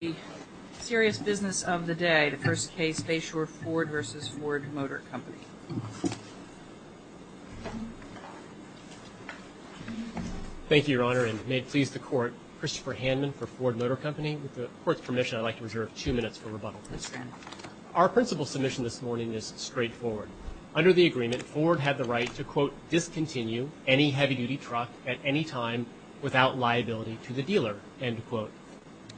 The serious business of the day. The first case, Bayshore Ford v. Ford Motor Company. Thank you, Your Honor, and may it please the Court, Christopher Handman for Ford Motor Company. With the Court's permission, I'd like to reserve two minutes for rebuttal. Our principal submission this morning is straightforward. Under the agreement, Ford had the right to quote, discontinue any heavy-duty truck at any time without liability to the dealer, end quote.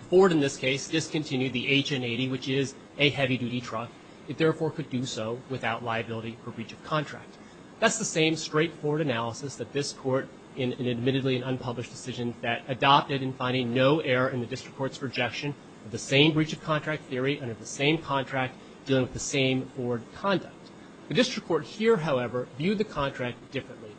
Ford, in this case, discontinued the HN-80, which is a heavy-duty truck. It therefore could do so without liability for breach of contract. That's the same straightforward analysis that this Court in an admittedly unpublished decision that adopted in finding no error in the District Court's projection of the same breach of contract theory under the same contract dealing with the same Ford conduct. The District Court here, however, viewed the contract differently.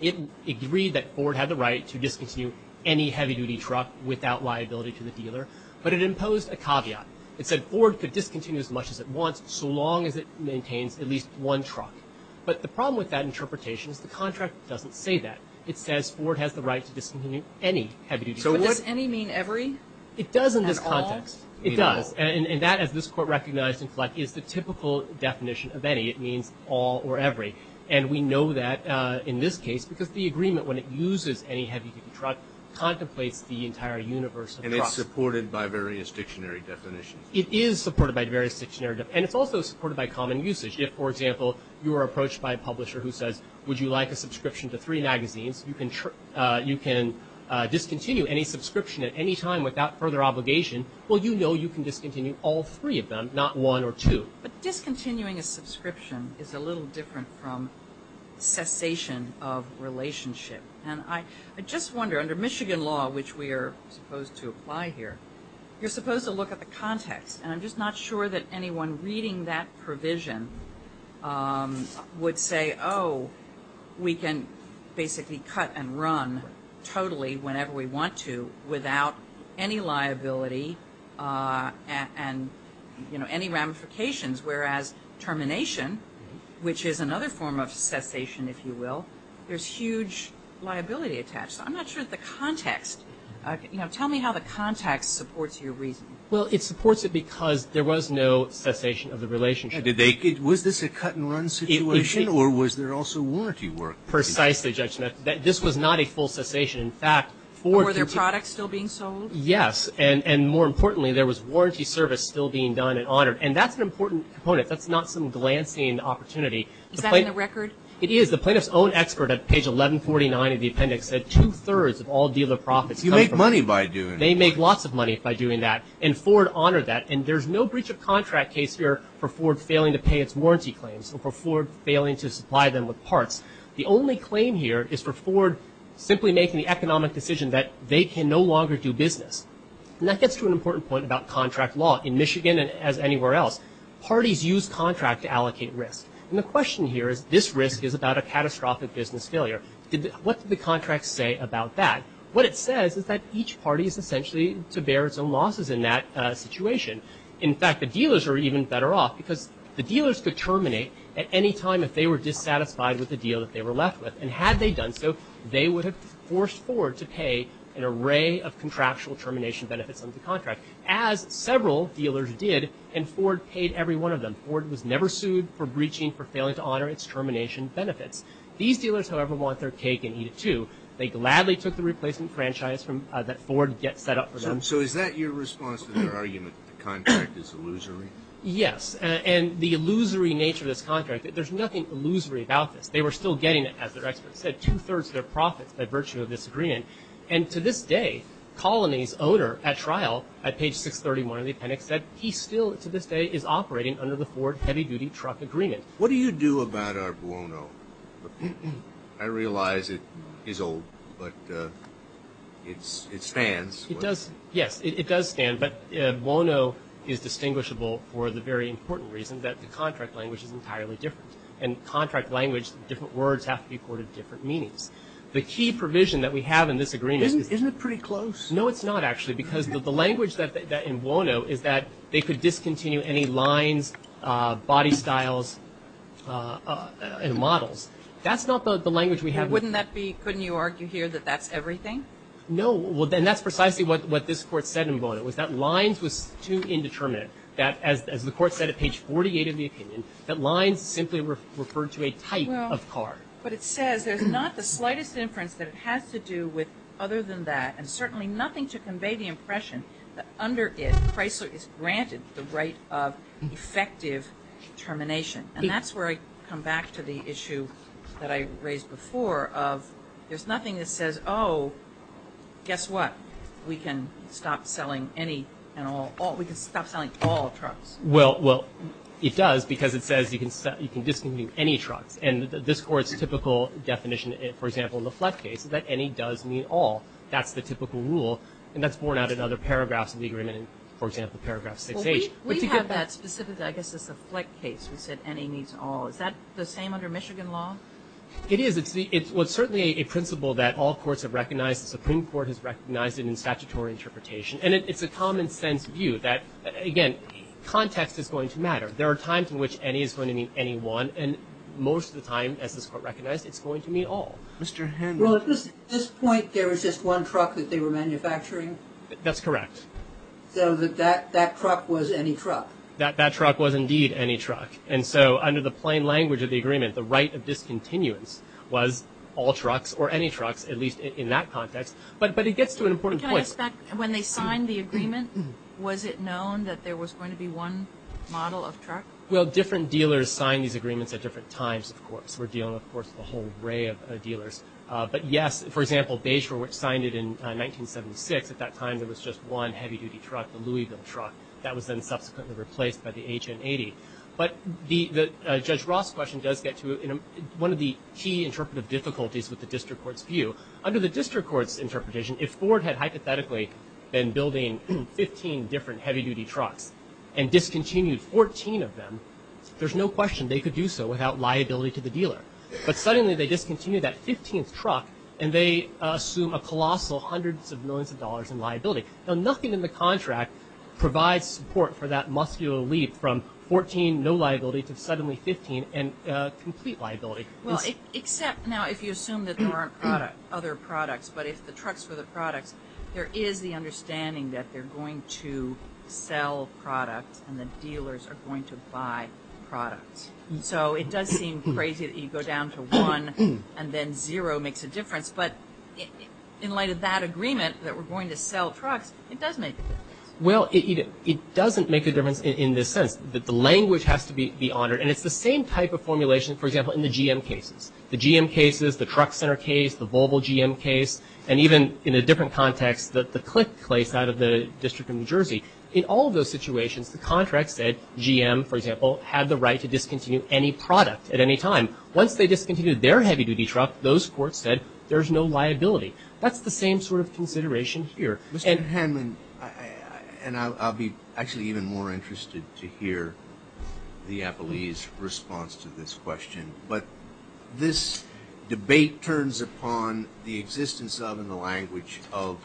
It agreed that Ford had the right to discontinue any heavy-duty truck without liability to the dealer, but it imposed a caveat. It said Ford could discontinue as much as it wants so long as it maintains at least one truck. But the problem with that interpretation is the contract doesn't say that. It says Ford has the right to discontinue any heavy-duty truck. So does any mean every? It does in this context. It does. And that, this Court recognized in Fleck, is the typical definition of any. It means all or every. And we know that in this case because the agreement, when it uses any heavy-duty truck, contemplates the entire universe of the process. And it's supported by various dictionary definitions. It is supported by various dictionary definitions. And it's also supported by common usage. If, for example, you are approached by a publisher who says, would you like a subscription to three magazines? You can discontinue any subscription at any time without further obligation. Well, you know you can discontinue all three of them, not one or two. But discontinuing a subscription is a little different from cessation of relationship. And I just wonder, under Michigan law, which we are supposed to apply here, you're supposed to look at the context. And I'm just not sure that anyone reading that provision would say, oh, we can basically cut and run totally whenever we want to without any liability and, you know, any ramifications. Whereas termination, which is another form of cessation, if you will, there's huge liability attached. So I'm not sure that the context, you know, tell me how the context supports your reasoning. Well, it supports it because there was no cessation of the relationship. Did they, was this a cut and run situation or was there also warranty work? Precisely, Judge Smith. This was not a full cessation. In fact, were their products still being sold? Yes. And more importantly, there was warranty service still being done and honored. And that's an important component. That's not some glancing opportunity. Is that in the record? It is. The plaintiff's own expert at page 1149 of the appendix said two-thirds of all dealer profits come from... You make money by doing it. They make lots of money by doing that. And Ford honored that. And there's no breach of contract case here for Ford failing to pay its parts. The only claim here is for Ford simply making the economic decision that they can no longer do business. And that gets to an important point about contract law in Michigan and as anywhere else. Parties use contract to allocate risk. And the question here is this risk is about a catastrophic business failure. What do the contracts say about that? What it says is that each party is essentially to bear its own losses in that situation. In fact, the dealers are even better off because the dealers could terminate at any time if they were dissatisfied with the deal that they were left with. And had they done so, they would have forced Ford to pay an array of contractual termination benefits under the contract, as several dealers did. And Ford paid every one of them. Ford was never sued for breaching, for failing to honor its termination benefits. These dealers, however, want their cake and eat it too. They gladly took the replacement franchise that Ford set up for them. So is that your response to their argument that the contract is illusory? Yes. And the illusory nature of this contract, there's nothing illusory about this. They were still getting, as their experts said, two-thirds of their profits by virtue of this agreement. And to this day, Colony's owner at trial at page 631 of the appendix said he still to this day is operating under the Ford heavy-duty truck agreement. What do you do about our Buono? But I realize it is old, but it stands. It does. Yes, it does stand. But Buono is distinguishable for the very important reason that the contract language is entirely different. And contract language, different words have to be accorded different meanings. The key provision that we have in this agreement is... Isn't it pretty close? No, it's not actually. Because the language that in Buono is that they could discontinue any lines, body styles, and models. That's not the language we have... Wouldn't that be... Couldn't you argue here that that's everything? No. And that's precisely what this Court said in Buono, was that lines was too indeterminate. That, as the Court said at page 48 of the opinion, that lines simply referred to a type of car. But it says there's not the slightest inference that it has to do with other than that, and certainly nothing to convey the impression that under it, Chrysler is granted the right of effective termination. And that's where I come back to the issue that I raised before of there's nothing that says, oh, guess what? We can stop selling any and all... We can stop selling all trucks. Well, it does, because it says you can discontinue any trucks. And this Court's typical definition, for example, in the Fleck case, is that any does mean all. That's the typical rule. And that's borne out in other paragraphs of the agreement, for example, paragraph 6H. We have that specifically, I guess it's a Fleck case, we said any means all. Is that the same under Michigan law? It is. It's certainly a principle that all courts have recognized. The Supreme Court has recognized it in statutory interpretation. And it's a common sense view that, again, context is going to matter. There are times in which any is going to mean any one. And most of the time, as this Court recognized, it's going to mean all. Mr. Henry. Well, at this point, there was just one truck that they were manufacturing? That's correct. So that truck was any truck? That truck was indeed any truck. And so under the plain language of the agreement, the right of discontinuance was all trucks or any trucks, at least in that context. But it gets to an important point. Can I ask back, when they signed the agreement, was it known that there was going to be one model of truck? Well, different dealers signed these agreements at different times, of course. We're dealing, of course, with a whole array of dealers. But yes, for example, Bayshore, which signed it in 1976, at that time, there was just one heavy-duty truck, the Louisville truck. That was then subsequently replaced by the HN-80. But Judge Ross' question does get to one of the key interpretive difficulties with the district court's view. Under the district court's interpretation, if Ford had hypothetically been building 15 different heavy-duty trucks and discontinued 14 of them, there's no question they could do so without liability to the dealer. But suddenly, they discontinued that colossal hundreds of millions of dollars in liability. Now, nothing in the contract provides support for that muscular leap from 14, no liability, to suddenly 15, and complete liability. Well, except now, if you assume that there aren't other products, but if the trucks were the products, there is the understanding that they're going to sell products and the dealers are going to buy products. So it does seem crazy that you go down to one and then zero makes a difference. But in light of that agreement that we're going to sell trucks, it does make a difference. Well, it doesn't make a difference in this sense. The language has to be honored. And it's the same type of formulation, for example, in the GM cases. The GM cases, the Truck Center case, the Volvo GM case, and even in a different context, the click case out of the District of New Jersey. In all of those situations, the contract said GM, for example, had the right to discontinue any product at any time. Once they discontinued their heavy-duty truck, those courts said there's no liability. That's the same sort of consideration here. Mr. Hanman, and I'll be actually even more interested to hear the appellee's response to this question, but this debate turns upon the existence of, in the language of,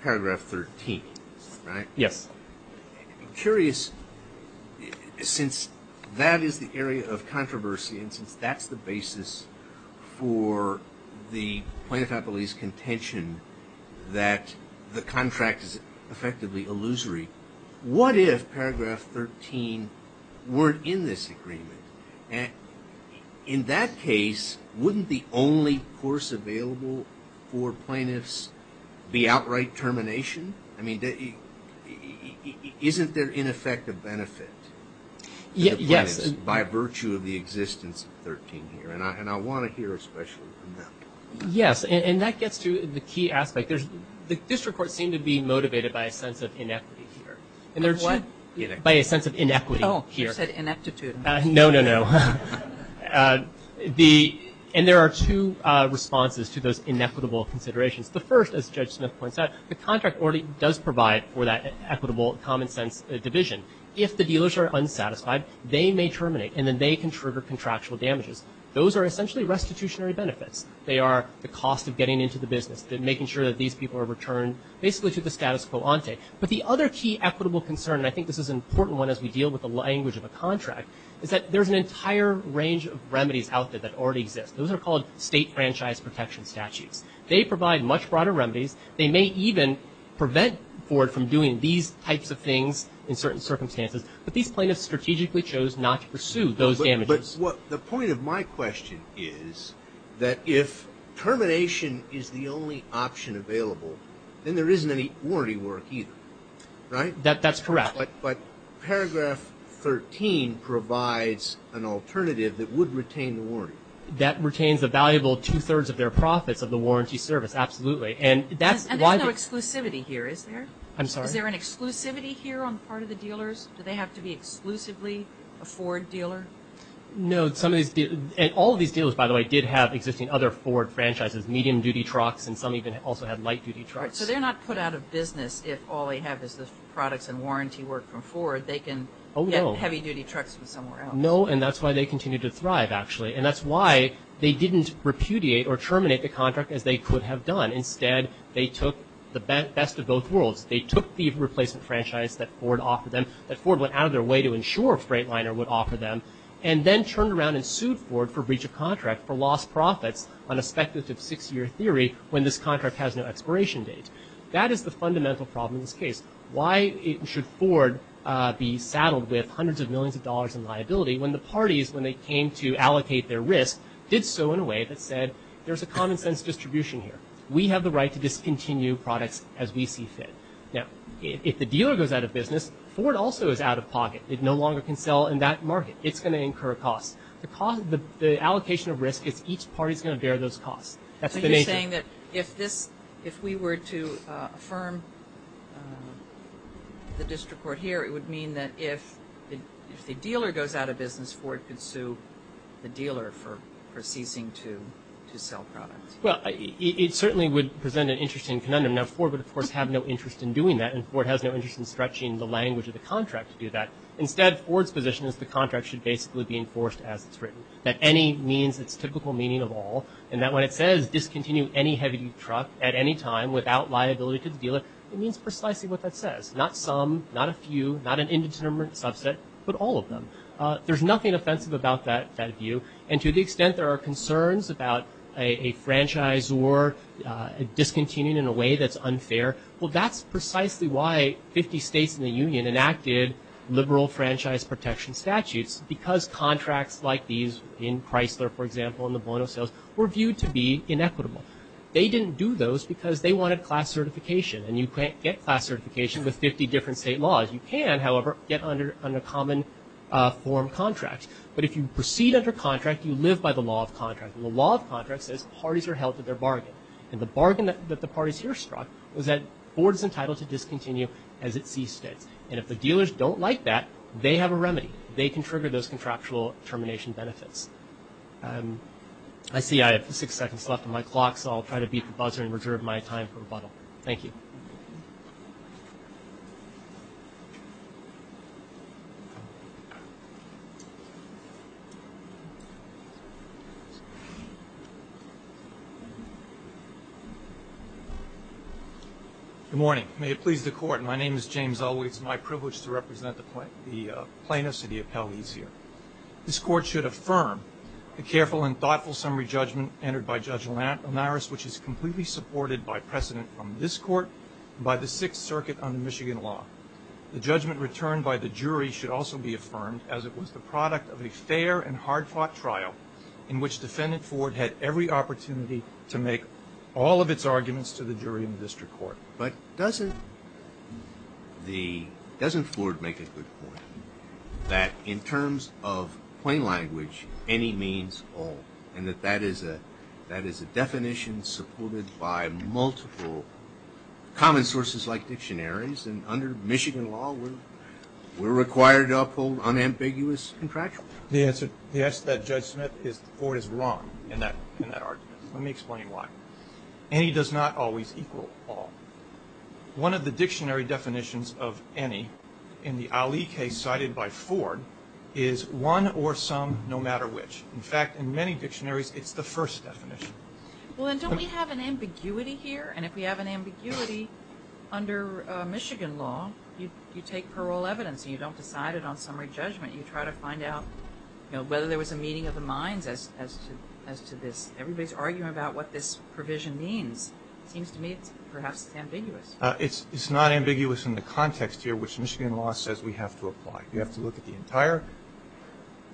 Paragraph 13, right? Yes. I'm curious, since that is the area of controversy and since that's the basis for the plaintiff appellee's contention that the contract is effectively illusory, what if Paragraph 13 weren't in this agreement? In that case, wouldn't the only course available for plaintiffs be isn't there, in effect, a benefit to the plaintiffs by virtue of the existence of 13 here? And I want to hear especially from them. Yes, and that gets to the key aspect. The district courts seem to be motivated by a sense of inequity here, by a sense of inequity here. Oh, you said ineptitude. No, no, no. And there are two responses to those inequitable considerations. The first, as Judge Smith points out, the contract already does provide for that equitable, common-sense division. If the dealers are unsatisfied, they may terminate, and then they can trigger contractual damages. Those are essentially restitutionary benefits. They are the cost of getting into the business, making sure that these people are returned basically to the status quo ante. But the other key equitable concern, and I think this is an important one as we deal with the language of a contract, is that there's an entire range of remedies out there that already exist. Those are called state franchise protection statutes. They provide much broader remedies. They may even prevent Ford from doing these types of things in certain circumstances. But these plaintiffs strategically chose not to pursue those damages. But the point of my question is that if termination is the only option available, then there isn't any warranty work either, right? That's correct. That retains a valuable two-thirds of their profits of the warranty service, absolutely. And that's why the- And there's no exclusivity here, is there? I'm sorry? Is there an exclusivity here on the part of the dealers? Do they have to be exclusively a Ford dealer? No. Some of these dealers, and all of these dealers, by the way, did have existing other Ford franchises, medium-duty trucks, and some even also had light-duty trucks. So they're not put out of business if all they have is the products and warranty work from Ford. They can get heavy-duty trucks from somewhere else. No, and that's why they continue to thrive, actually. And that's why they didn't repudiate or terminate the contract as they could have done. Instead, they took the best of both worlds. They took the replacement franchise that Ford offered them, that Ford went out of their way to ensure Freightliner would offer them, and then turned around and sued Ford for breach of contract for lost profits on a speculative six-year theory when this contract has no expiration date. That is the fundamental problem in this case. Why should Ford be saddled with hundreds of when the parties, when they came to allocate their risk, did so in a way that said, there's a common-sense distribution here. We have the right to discontinue products as we see fit. Now, if the dealer goes out of business, Ford also is out of pocket. It no longer can sell in that market. It's going to incur costs. The allocation of risk is each party's going to bear those costs. That's the nature. So you're saying that if we were to affirm the district court here, it would mean that if the dealer goes out of business, Ford could sue the dealer for ceasing to sell products. Well, it certainly would present an interesting conundrum. Now, Ford would, of course, have no interest in doing that, and Ford has no interest in stretching the language of the contract to do that. Instead, Ford's position is the contract should basically be enforced as it's written. That any means its typical meaning of all, and that when it says, discontinue any heavy truck at any time without liability to the dealer, it means precisely what that says. Not some, not a few, not an indeterminate subset, but all of them. There's nothing offensive about that view, and to the extent there are concerns about a franchise or discontinuing in a way that's unfair, well, that's precisely why 50 states in the union enacted liberal franchise protection statutes, because contracts like these in Chrysler, for example, and the Bono sales were viewed to be inequitable. They didn't do those because they wanted class certification, and you can't get class certification with 50 different state laws. You can, however, get under common form contracts, but if you proceed under contract, you live by the law of contract, and the law of contract says parties are held to their bargain, and the bargain that the parties here struck was that Ford's entitled to discontinue as it sees fit, and if the dealers don't like that, they have a remedy. They can trigger those contractual termination benefits. I see I have six seconds left on my clock, so I'll try to beat the buzzer and reserve my time for rebuttal. Thank you. Good morning. May it please the Court, my name is James Elway. It's my privilege to represent the plaintiffs and the appellees here. This Court should affirm the careful and thoughtful summary judgment entered by Judge Linares, which is completely supported by precedent from this Court and by the Sixth Circuit under Michigan law. The judgment returned by the jury should also be affirmed as it was the product of a fair and hard-fought trial in which Defendant Ford had every opportunity to make all of its arguments to the jury in the District Court. But doesn't Ford make a good point that in terms of plain language, any means all, and that that is a definition supported by multiple common sources like dictionaries, and under Michigan law, we're required to uphold unambiguous contractual? The answer to that, Judge Smith, is Ford is wrong in that argument. Let me explain why. Any does not always equal all. One of the dictionary definitions of any in the Ali case decided by Ford is one or some, no matter which. In fact, in many dictionaries, it's the first definition. Well, and don't we have an ambiguity here? And if we have an ambiguity under Michigan law, you take parole evidence and you don't decide it on summary judgment. You try to find out, you know, whether there was a meeting of the minds as to this. Everybody's arguing about what this provision means. It seems to me perhaps it's ambiguous. It's not ambiguous in the context here, which Michigan law says we have to apply. You have to look at the entire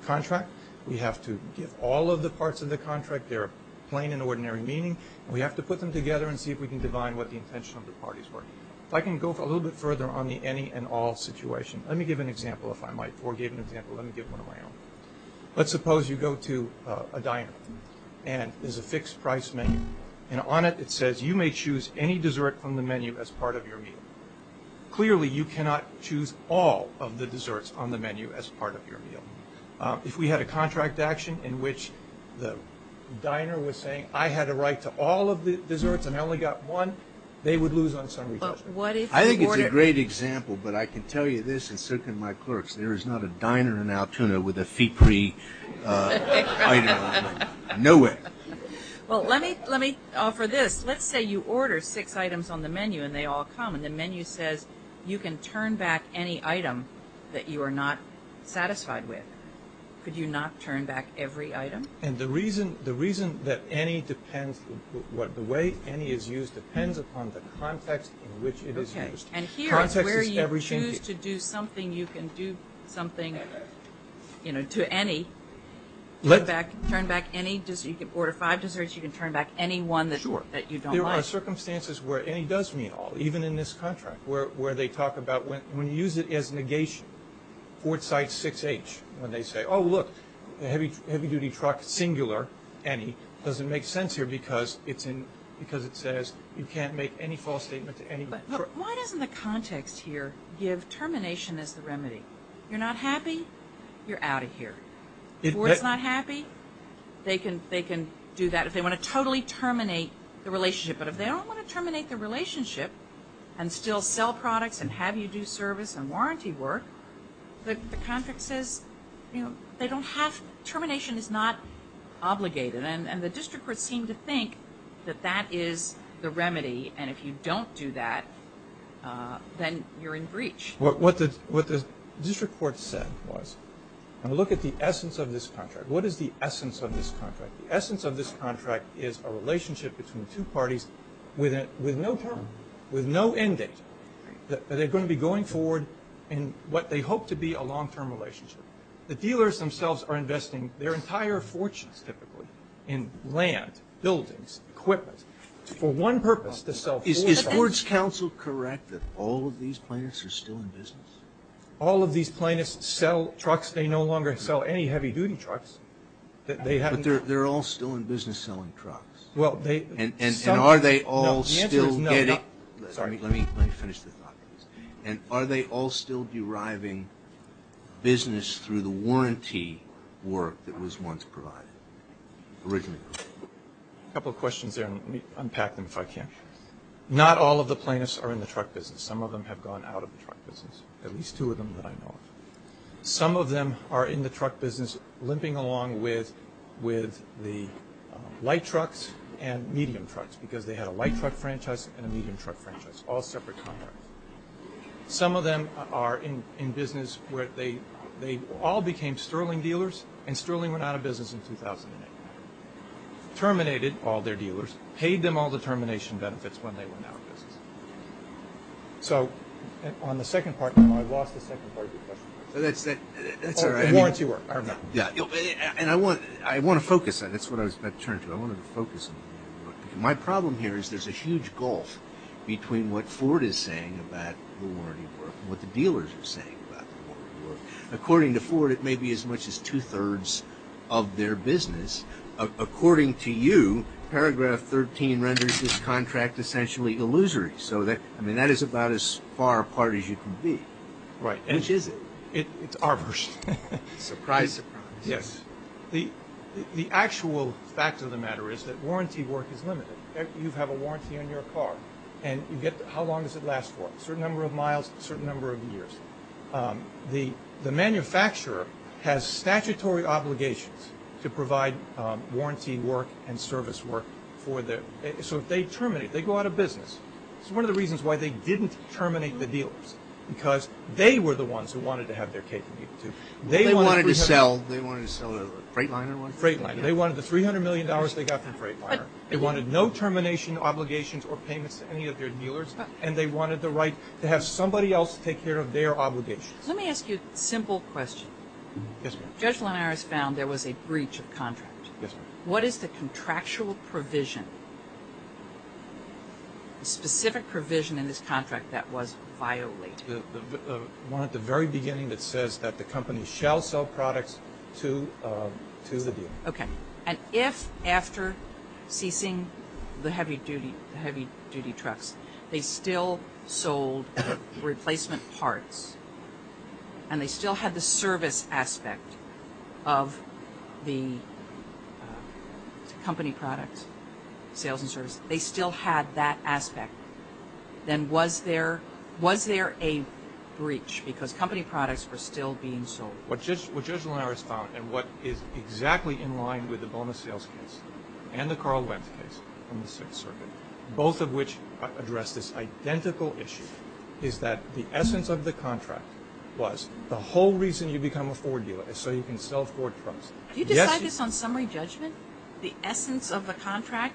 contract. We have to give all of the parts of the contract their plain and ordinary meaning. We have to put them together and see if we can divine what the intention of the parties were. If I can go a little bit further on the any and all situation. Let me give an example, if I might. Ford gave an example. Let me give one of my own. Let's suppose you go to a diner and there's a fixed price menu. And on it, it says, you may choose any dessert from the menu as part of your meal. Clearly, you cannot choose all of the desserts on the menu as part of your meal. If we had a contract action in which the diner was saying, I had a right to all of the desserts and I only got one, they would lose on summary judgment. I think it's a great example, but I can tell you this, and so can my clerks, there is not a diner in Altoona with a fee-free item on the menu. Nowhere. Well, let me offer this. Let's say you order six items on the menu and they all come. And the menu says, you can turn back any item that you are not satisfied with. Could you not turn back every item? And the reason that any depends, the way any is used depends upon the context in which it is used. Okay. And here is where you choose to do something, you can do something to any. Turn back any dessert, you can order five desserts, you can turn back any one that you don't like. Sure. There are circumstances where any does mean all, even in this contract, where they talk about when you use it as negation, Fort Site 6H, when they say, oh look, the heavy duty truck, singular, any, doesn't make sense here because it says you can't make any false statement to any. But why doesn't the context here give termination as the remedy? You're not happy, you're out of here. If Ford's not happy, they can do that if they want to totally terminate the relationship. But if they don't want to terminate the relationship and still sell products and have you do service and warranty work, the contract says they don't have, termination is not obligated. And the district courts seem to think that that is the remedy and if you don't do that, then you're in breach. What the district court said was, and look at the essence of this contract. What is the essence of this contract? The essence of this contract is a relationship between two parties with no term, with no end date. They're going to be going forward in what they hope to be a long-term relationship. The dealers themselves are investing their entire fortunes, typically, in land, buildings, equipment, for one purpose, to sell Ford's products. Is it correct that all of these plaintiffs are still in business? All of these plaintiffs sell trucks. They no longer sell any heavy-duty trucks. They're all still in business selling trucks. And are they all still deriving business through the warranty work that was once provided, originally? A couple of questions there. Let me unpack them if I can. Not all of the plaintiffs are in the truck business. Some of them have gone out of the truck business, at least two of them that I know of. Some of them are in the truck business limping along with the light trucks and medium trucks because they had a light truck franchise and a medium truck franchise, all separate contracts. Some of them are in business where they all became sterling dealers, and sterling went out of business in 2008. Terminated all their dealers, paid them all the termination benefits when they went out of business. So on the second part, I lost the second part of your question. The warranty work. I want to focus. That's what I was about to turn to. I wanted to focus on the warranty work. My problem here is there's a huge gulf between what Ford is saying about the warranty work and what the dealers are saying about the warranty work. According to Ford, it may be as much as two-thirds of their business. According to you, paragraph 13 renders this contract essentially illusory. So that is about as far apart as you can be. Which is it? It's arborist. Surprise. Surprise. Yes. The actual fact of the matter is that warranty work is limited. You have a warranty on your car, and how long does it last for? A certain number of miles, a certain number of years. The manufacturer has statutory obligations to provide warranty work and service work for their. So if they terminate, they go out of business. It's one of the reasons why they didn't terminate the dealers, because they were the ones who wanted to have their capability to. They wanted to sell. They wanted to sell a Freightliner one? Freightliner. They wanted the $300 million they got from Freightliner. They wanted no termination obligations or payments to any of their dealers, and they wanted the right to have somebody else take care of their obligations. Let me ask you a simple question. Yes, ma'am. Judge Lenar has found there was a breach of contract. Yes, ma'am. What is the contractual provision, the specific provision in this contract that was violated? The one at the very beginning that says that the company shall sell products to the dealer. Okay. And if after ceasing the heavy-duty trucks, they still sold replacement parts, and they still had the service aspect of the company products, sales and service, they still had that aspect, then was there a breach? Because company products were still being sold. What Judge Lenar has found, and what is exactly in line with the bonus sales case and the Carl Wentz case on the Sixth Circuit, both of which address this identical issue, is that the essence of the contract was the whole reason you become a forward dealer is so you can sell forward trucks. Do you decide this on summary judgment, the essence of the contract?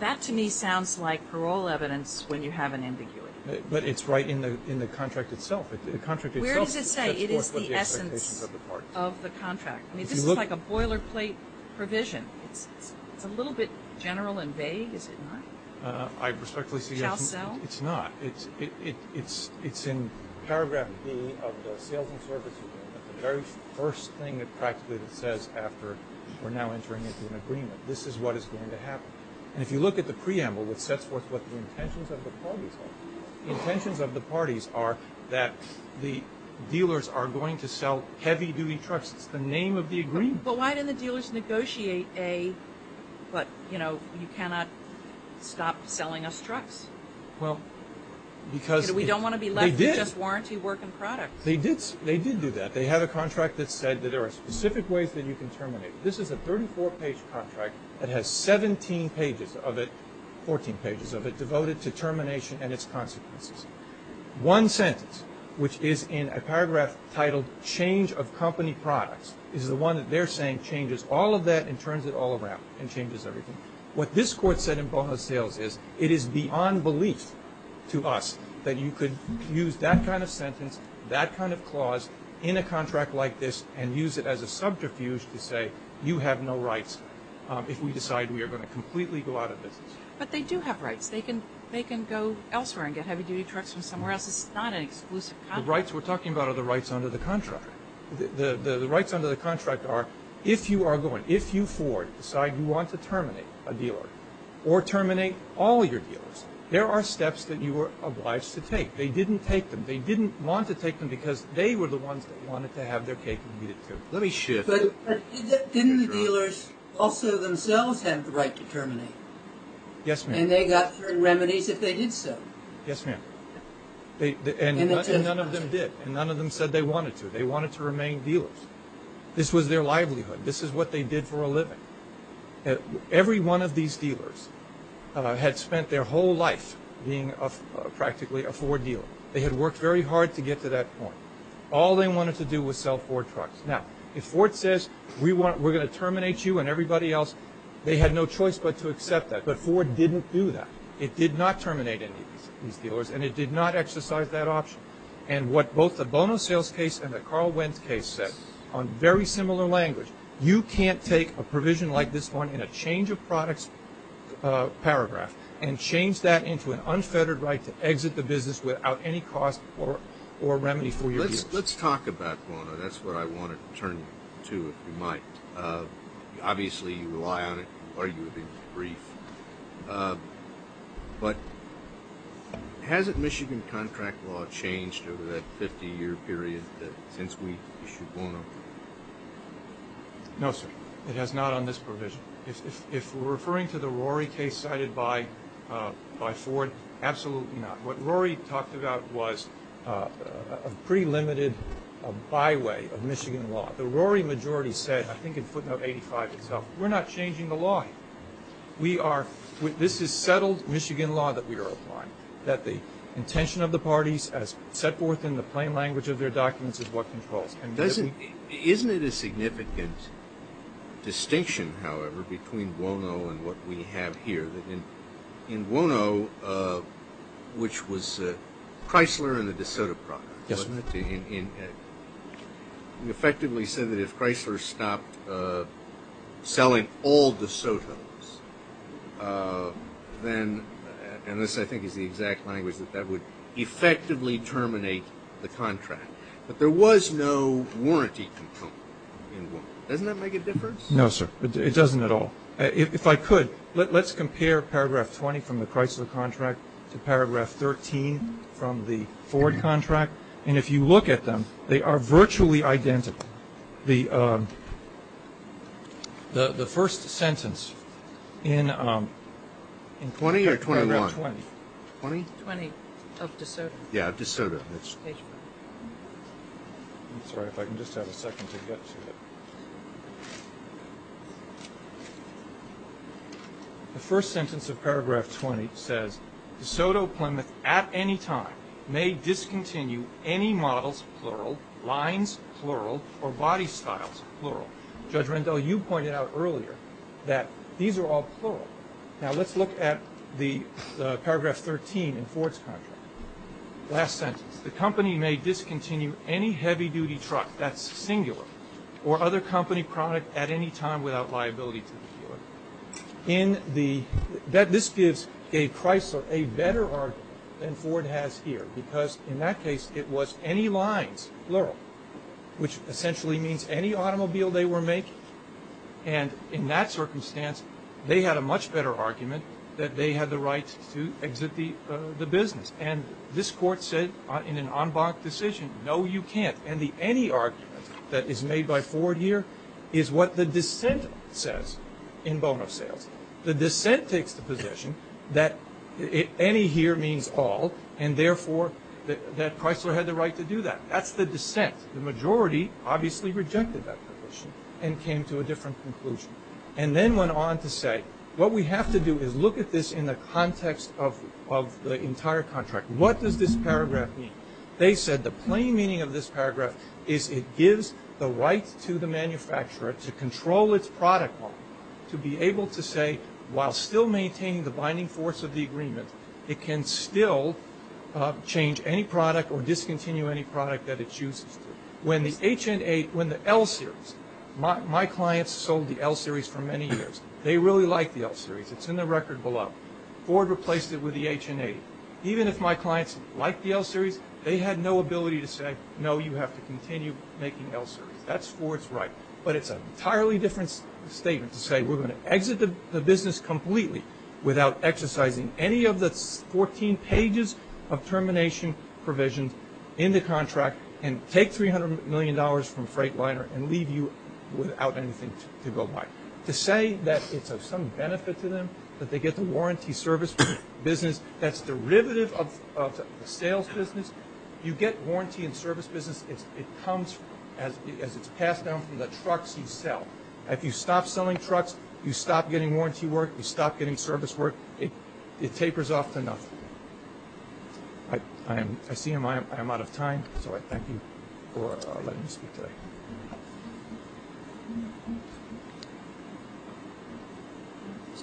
That to me sounds like parole evidence when you have an ambiguity. But it's right in the contract itself. The contract itself sets forth what the essence of the contract. I mean, this is like a boilerplate provision. It's a little bit general and vague, is it not? I respectfully suggest it's not. It's in paragraph B of the sales and service agreement, the very first thing it practically says after we're now entering into an agreement. This is what is going to happen. And if you look at the preamble, it sets forth what the intentions of the parties are. The intentions of the parties are that the dealers are going to sell heavy-duty trucks. It's the name of the agreement. But why didn't the dealers negotiate a, you know, you cannot stop selling us trucks? Well, because they did. We don't want to be left with just warranty work and products. They did do that. They have a contract that said that there are specific ways that you can terminate. This is a 34-page contract that has 17 pages of it, 14 pages of it, devoted to termination and its consequences. One sentence, which is in a paragraph titled change of company products, is the one that they're saying changes all of that and turns it all around and changes everything. What this Court said in bonus sales is it is beyond belief to us that you could use that kind of sentence, that kind of clause, in a contract like this and use it as a subterfuge to say you have no rights if we decide we are going to completely go out of business. But they do have rights. They can go elsewhere and get heavy-duty trucks from somewhere else. It's not an exclusive contract. The rights we're talking about are the rights under the contract. The rights under the contract are if you are going, if you, Ford, decide you want to terminate a dealer or terminate all your dealers, there are steps that you are obliged to take. They didn't take them. They didn't want to take them because they were the ones that wanted to have their cake and eat it too. Let me shift. But didn't the dealers also themselves have the right to terminate? Yes, ma'am. And they got their remedies if they did so? Yes, ma'am. And none of them did. And none of them said they wanted to. They wanted to remain dealers. This was their livelihood. This is what they did for a living. Every one of these dealers had spent their whole life being practically a Ford dealer. They had worked very hard to get to that point. All they wanted to do was sell Ford trucks. Now, if Ford says, we're going to terminate you and everybody else, they had no choice but to accept that. But Ford didn't do that. It did not terminate any of these dealers and it did not exercise that option. And what both the Bono sales case and the Carl Wentz case said on very similar language, you can't take a provision like this one in a change of products paragraph and change that into an unfettered right to exit the business without any cost or remedy for your dealers. Let's talk about Bono. That's what I want to turn to, if you might. Obviously, you rely on it. You've argued it in the brief. But hasn't Michigan contract law changed over that 50-year period since we issued Bono? No, sir. It has not on this provision. If we're referring to the Rory case cited by Ford, absolutely not. What Rory talked about was a pretty limited byway of Michigan law. The Rory majority said, I think in footnote 85 itself, we're not changing the law. This is settled Michigan law that we are applying, that the intention of the parties, as set forth in the plain language of their documents, is what controls. Isn't it a significant distinction, however, between Bono and what we have here? In Bono, which was Chrysler and the DeSoto product, we effectively said that if Chrysler stopped selling all DeSotos, then, and this I think is the exact language, that that would effectively terminate the contract. But there was no warranty component in Bono. Doesn't that make a difference? No, sir. It doesn't at all. If I could, let's compare paragraph 20 from the Chrysler contract to paragraph 13 from the Ford contract. And if you look at them, they are virtually identical. The first sentence in paragraph 20. 20 or 21? 20. 20 of DeSoto. Yeah, DeSoto. Sorry, if I can just have a second to get to it. The first sentence of paragraph 20 says, DeSoto Plymouth at any time may discontinue any models, plural, lines, plural, or body styles, plural. Judge Rendell, you pointed out earlier that these are all plural. Now, let's look at the paragraph 13 in Ford's contract. Last sentence. The company may discontinue any heavy-duty truck that's singular or other company product at any time without liability to the dealer. This gives Chrysler a better argument than Ford has here, because in that case, it was any lines, plural, which essentially means any automobile they were And in that circumstance, they had a much better argument that they had the right to exit the business. And this court said in an en banc decision, no, you can't. And the any argument that is made by Ford here is what the dissent says in bono sales. The dissent takes the position that any here means all, and therefore that Chrysler had the right to do that. That's the dissent. The majority obviously rejected that position and came to a different conclusion and then went on to say, what we have to do is look at this in the context of the entire contract. What does this paragraph mean? They said the plain meaning of this paragraph is it gives the right to the manufacturer to control its product model to be able to say, while still maintaining the binding force of the agreement, it can still change any product or When the L series, my clients sold the L series for many years. They really liked the L series. It's in the record below. Ford replaced it with the H and A. Even if my clients liked the L series, they had no ability to say, no, you have to continue making L series. That's Ford's right. But it's an entirely different statement to say we're going to exit the business completely without exercising any of the 14 pages of termination provisions in the contract and take $300 million from Freightliner and leave you without anything to go buy. To say that it's of some benefit to them, that they get the warranty service business, that's derivative of the sales business. You get warranty and service business, it comes as it's passed down from the trucks you sell. If you stop selling trucks, you stop getting warranty work, you stop getting service work, it tapers off to nothing. I see I'm out of time, so I thank you for letting me speak today.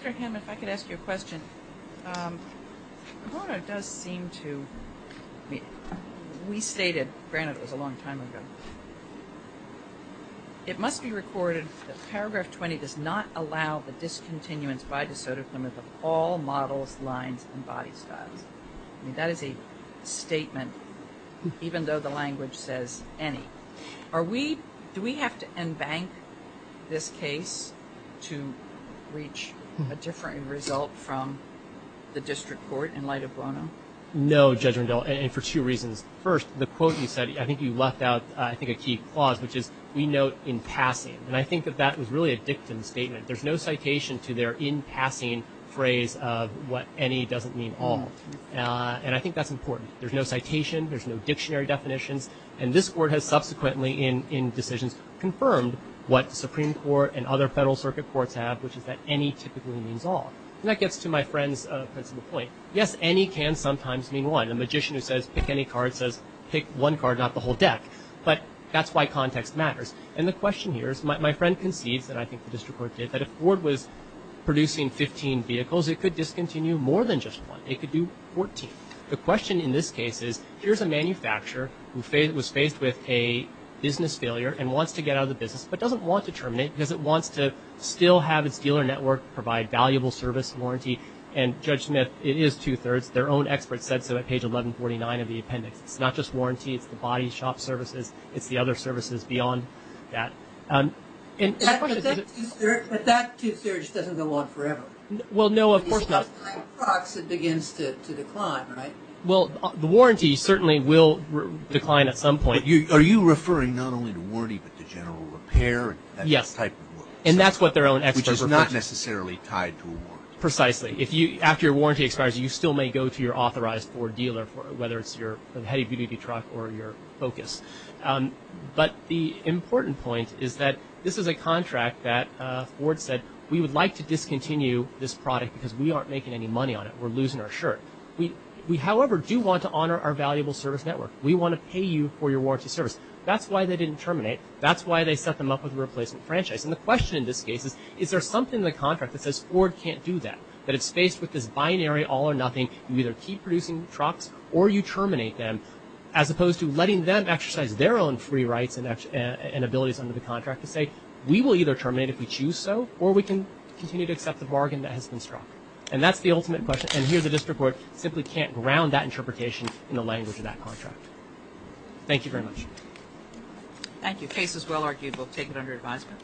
Dr. Hanman, if I could ask you a question. Corona does seem to, we stated, granted it was a long time ago, it must be recorded that paragraph 20 does not allow the discontinuance of all models, lines, and body styles. That is a statement, even though the language says any. Do we have to embank this case to reach a different result from the district court in light of Bono? No, Judge Rendell, and for two reasons. First, the quote you said, I think you left out a key clause, which is we note in passing. I think that that was really a dictum statement. There's no citation to their in passing phrase of what any doesn't mean all. And I think that's important. There's no citation, there's no dictionary definitions, and this court has subsequently in decisions confirmed what the Supreme Court and other federal circuit courts have, which is that any typically means all. And that gets to my friend's principle point. Yes, any can sometimes mean one. The magician who says pick any card says pick one card, not the whole deck. But that's why context matters. And the question here is, my friend concedes, and I think the district court did, that if Ford was producing 15 vehicles, it could discontinue more than just one. It could do 14. The question in this case is, here's a manufacturer who was faced with a business failure and wants to get out of the business, but doesn't want to terminate because it wants to still have its dealer network provide valuable service and warranty. And Judge Smith, it is two-thirds. Their own expert said so at page 1149 of the appendix. It's not just on that. But that two-thirds doesn't go on forever. Well, no, of course not. It begins to decline, right? Well, the warranty certainly will decline at some point. Are you referring not only to warranty but to general repair? Yes. That type of work. And that's what their own expert said. Which is not necessarily tied to a warranty. Precisely. After your warranty expires, you still may go to your authorized Ford dealer, whether it's your heady beauty truck or your Focus. But the important point is that this is a contract that Ford said, we would like to discontinue this product because we aren't making any money on it. We're losing our shirt. We, however, do want to honor our valuable service network. We want to pay you for your warranty service. That's why they didn't terminate. That's why they set them up with a replacement franchise. And the question in this case is, is there something in the contract that says Ford can't do that? That it's faced with this binary all or nothing. You either keep producing trucks or you terminate them. As opposed to letting them exercise their own free rights and abilities under the contract to say, we will either terminate if we choose so or we can continue to accept the bargain that has been struck. And that's the ultimate question. And here the district court simply can't ground that interpretation in the language of that contract. Thank you very much. Thank you. Case is well argued. We'll take it under advisement.